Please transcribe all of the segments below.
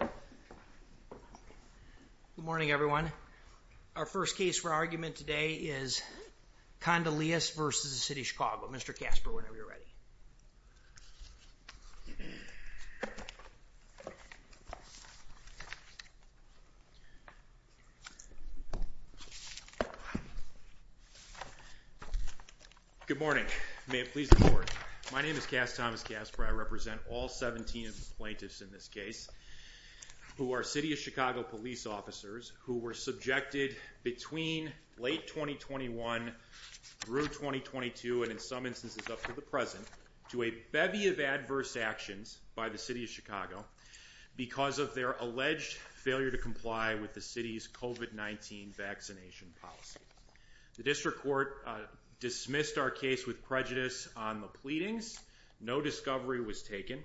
Good morning, everyone. Our first case for argument today is Kondilis v. City of Chicago. Mr. Kasper, whenever you're ready. Good morning. May it please the court. My name is Cass Thomas Kasper. I represent all 17 plaintiffs in this case who are City of Chicago police officers who were subjected between late 2021 through 2022 and in some instances up to the present to a bevy of adverse actions by the City of Chicago because of their alleged failure to comply with the city's COVID-19 vaccination policy. The district court dismissed our case with prejudice on the pleadings. No discovery was taken.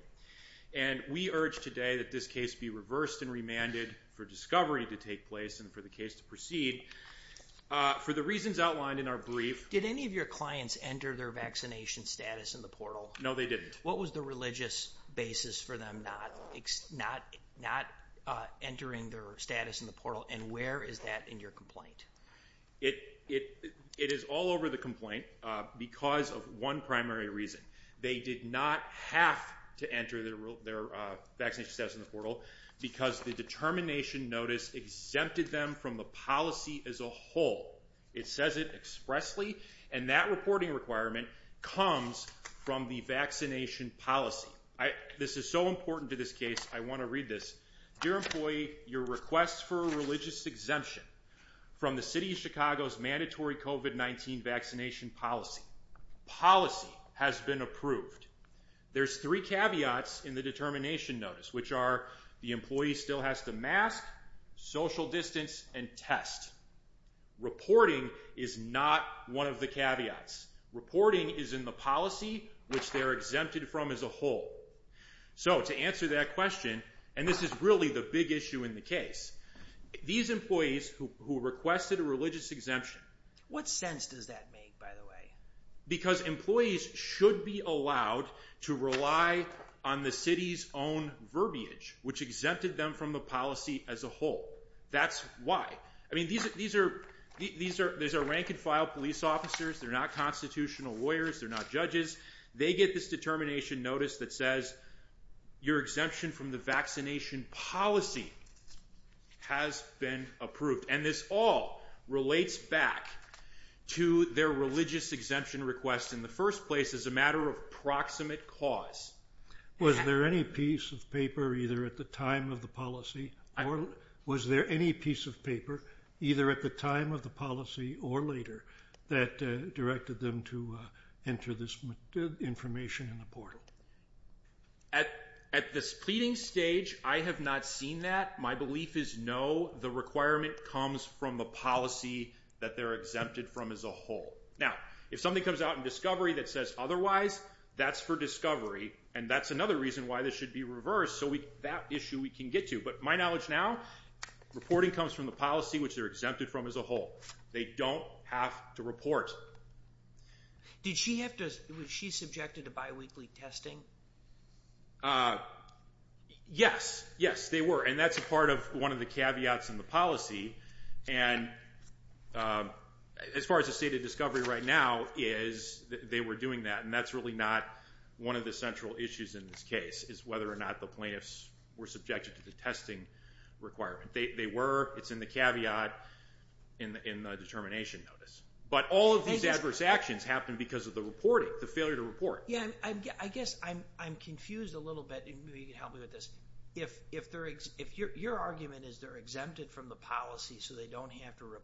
And we urge today that this case be reversed and remanded for discovery to take place and for the case to proceed. For the reasons outlined in our brief, did any of your clients enter their vaccination status in the portal? No, they didn't. What was the religious basis for them? Not not not entering their status in the portal. And where is that in your complaint? It it it is all over the complaint because of one primary reason. They did not have to enter their vaccination status in the portal because the determination notice exempted them from the policy as a whole. It says it expressly and that reporting requirement comes from the vaccination policy. This is so important to this case. I want to read this. Dear employee, your request for a religious exemption from the City of Chicago's mandatory COVID-19 vaccination policy policy has been approved. There's three caveats in the determination notice, which are the employee still has to mask, social distance, and test. Reporting is not one of the caveats. Reporting is in the policy, which they are exempted from as a whole. So to answer that question, and this is really the big issue in the case, these employees who who requested a religious exemption. What sense does that make, by the way? Because employees should be allowed to rely on the city's own verbiage, which exempted them from the policy as a whole. That's why I mean, these are these are these are rank and file police officers. They're not constitutional lawyers. They're not judges. They get this determination notice that says. Your exemption from the vaccination policy has been approved, and this all relates back to their religious exemption requests in the first place as a matter of proximate cause, was there any piece of paper, either at the time of the policy or was there any piece of paper, either at the time of the policy or later that directed them to enter this information in the portal? At at this pleading stage, I have not seen that. My belief is no. The requirement comes from the policy that they're exempted from as a whole. Now, if something comes out in discovery that says otherwise, that's for discovery, and that's another reason why this should be reversed. So we that issue we can get to. But my knowledge now reporting comes from the policy, which they're exempted from as a whole. They don't have to report. Did she have to? Was she subjected to biweekly testing? Yes. Yes, they were. And that's a part of one of the caveats in the policy. And as far as the state of discovery right now is they were doing that. And that's really not one of the central issues in this case is whether or not the plaintiffs were subjected to the testing requirement. They were. It's in the caveat in the determination notice. But all of these adverse actions happened because of the reporting, the failure to report. Yeah, I guess I'm I'm confused a little bit. Maybe you can help me with this. If if they're if your argument is they're exempted from the policy so they don't have to report.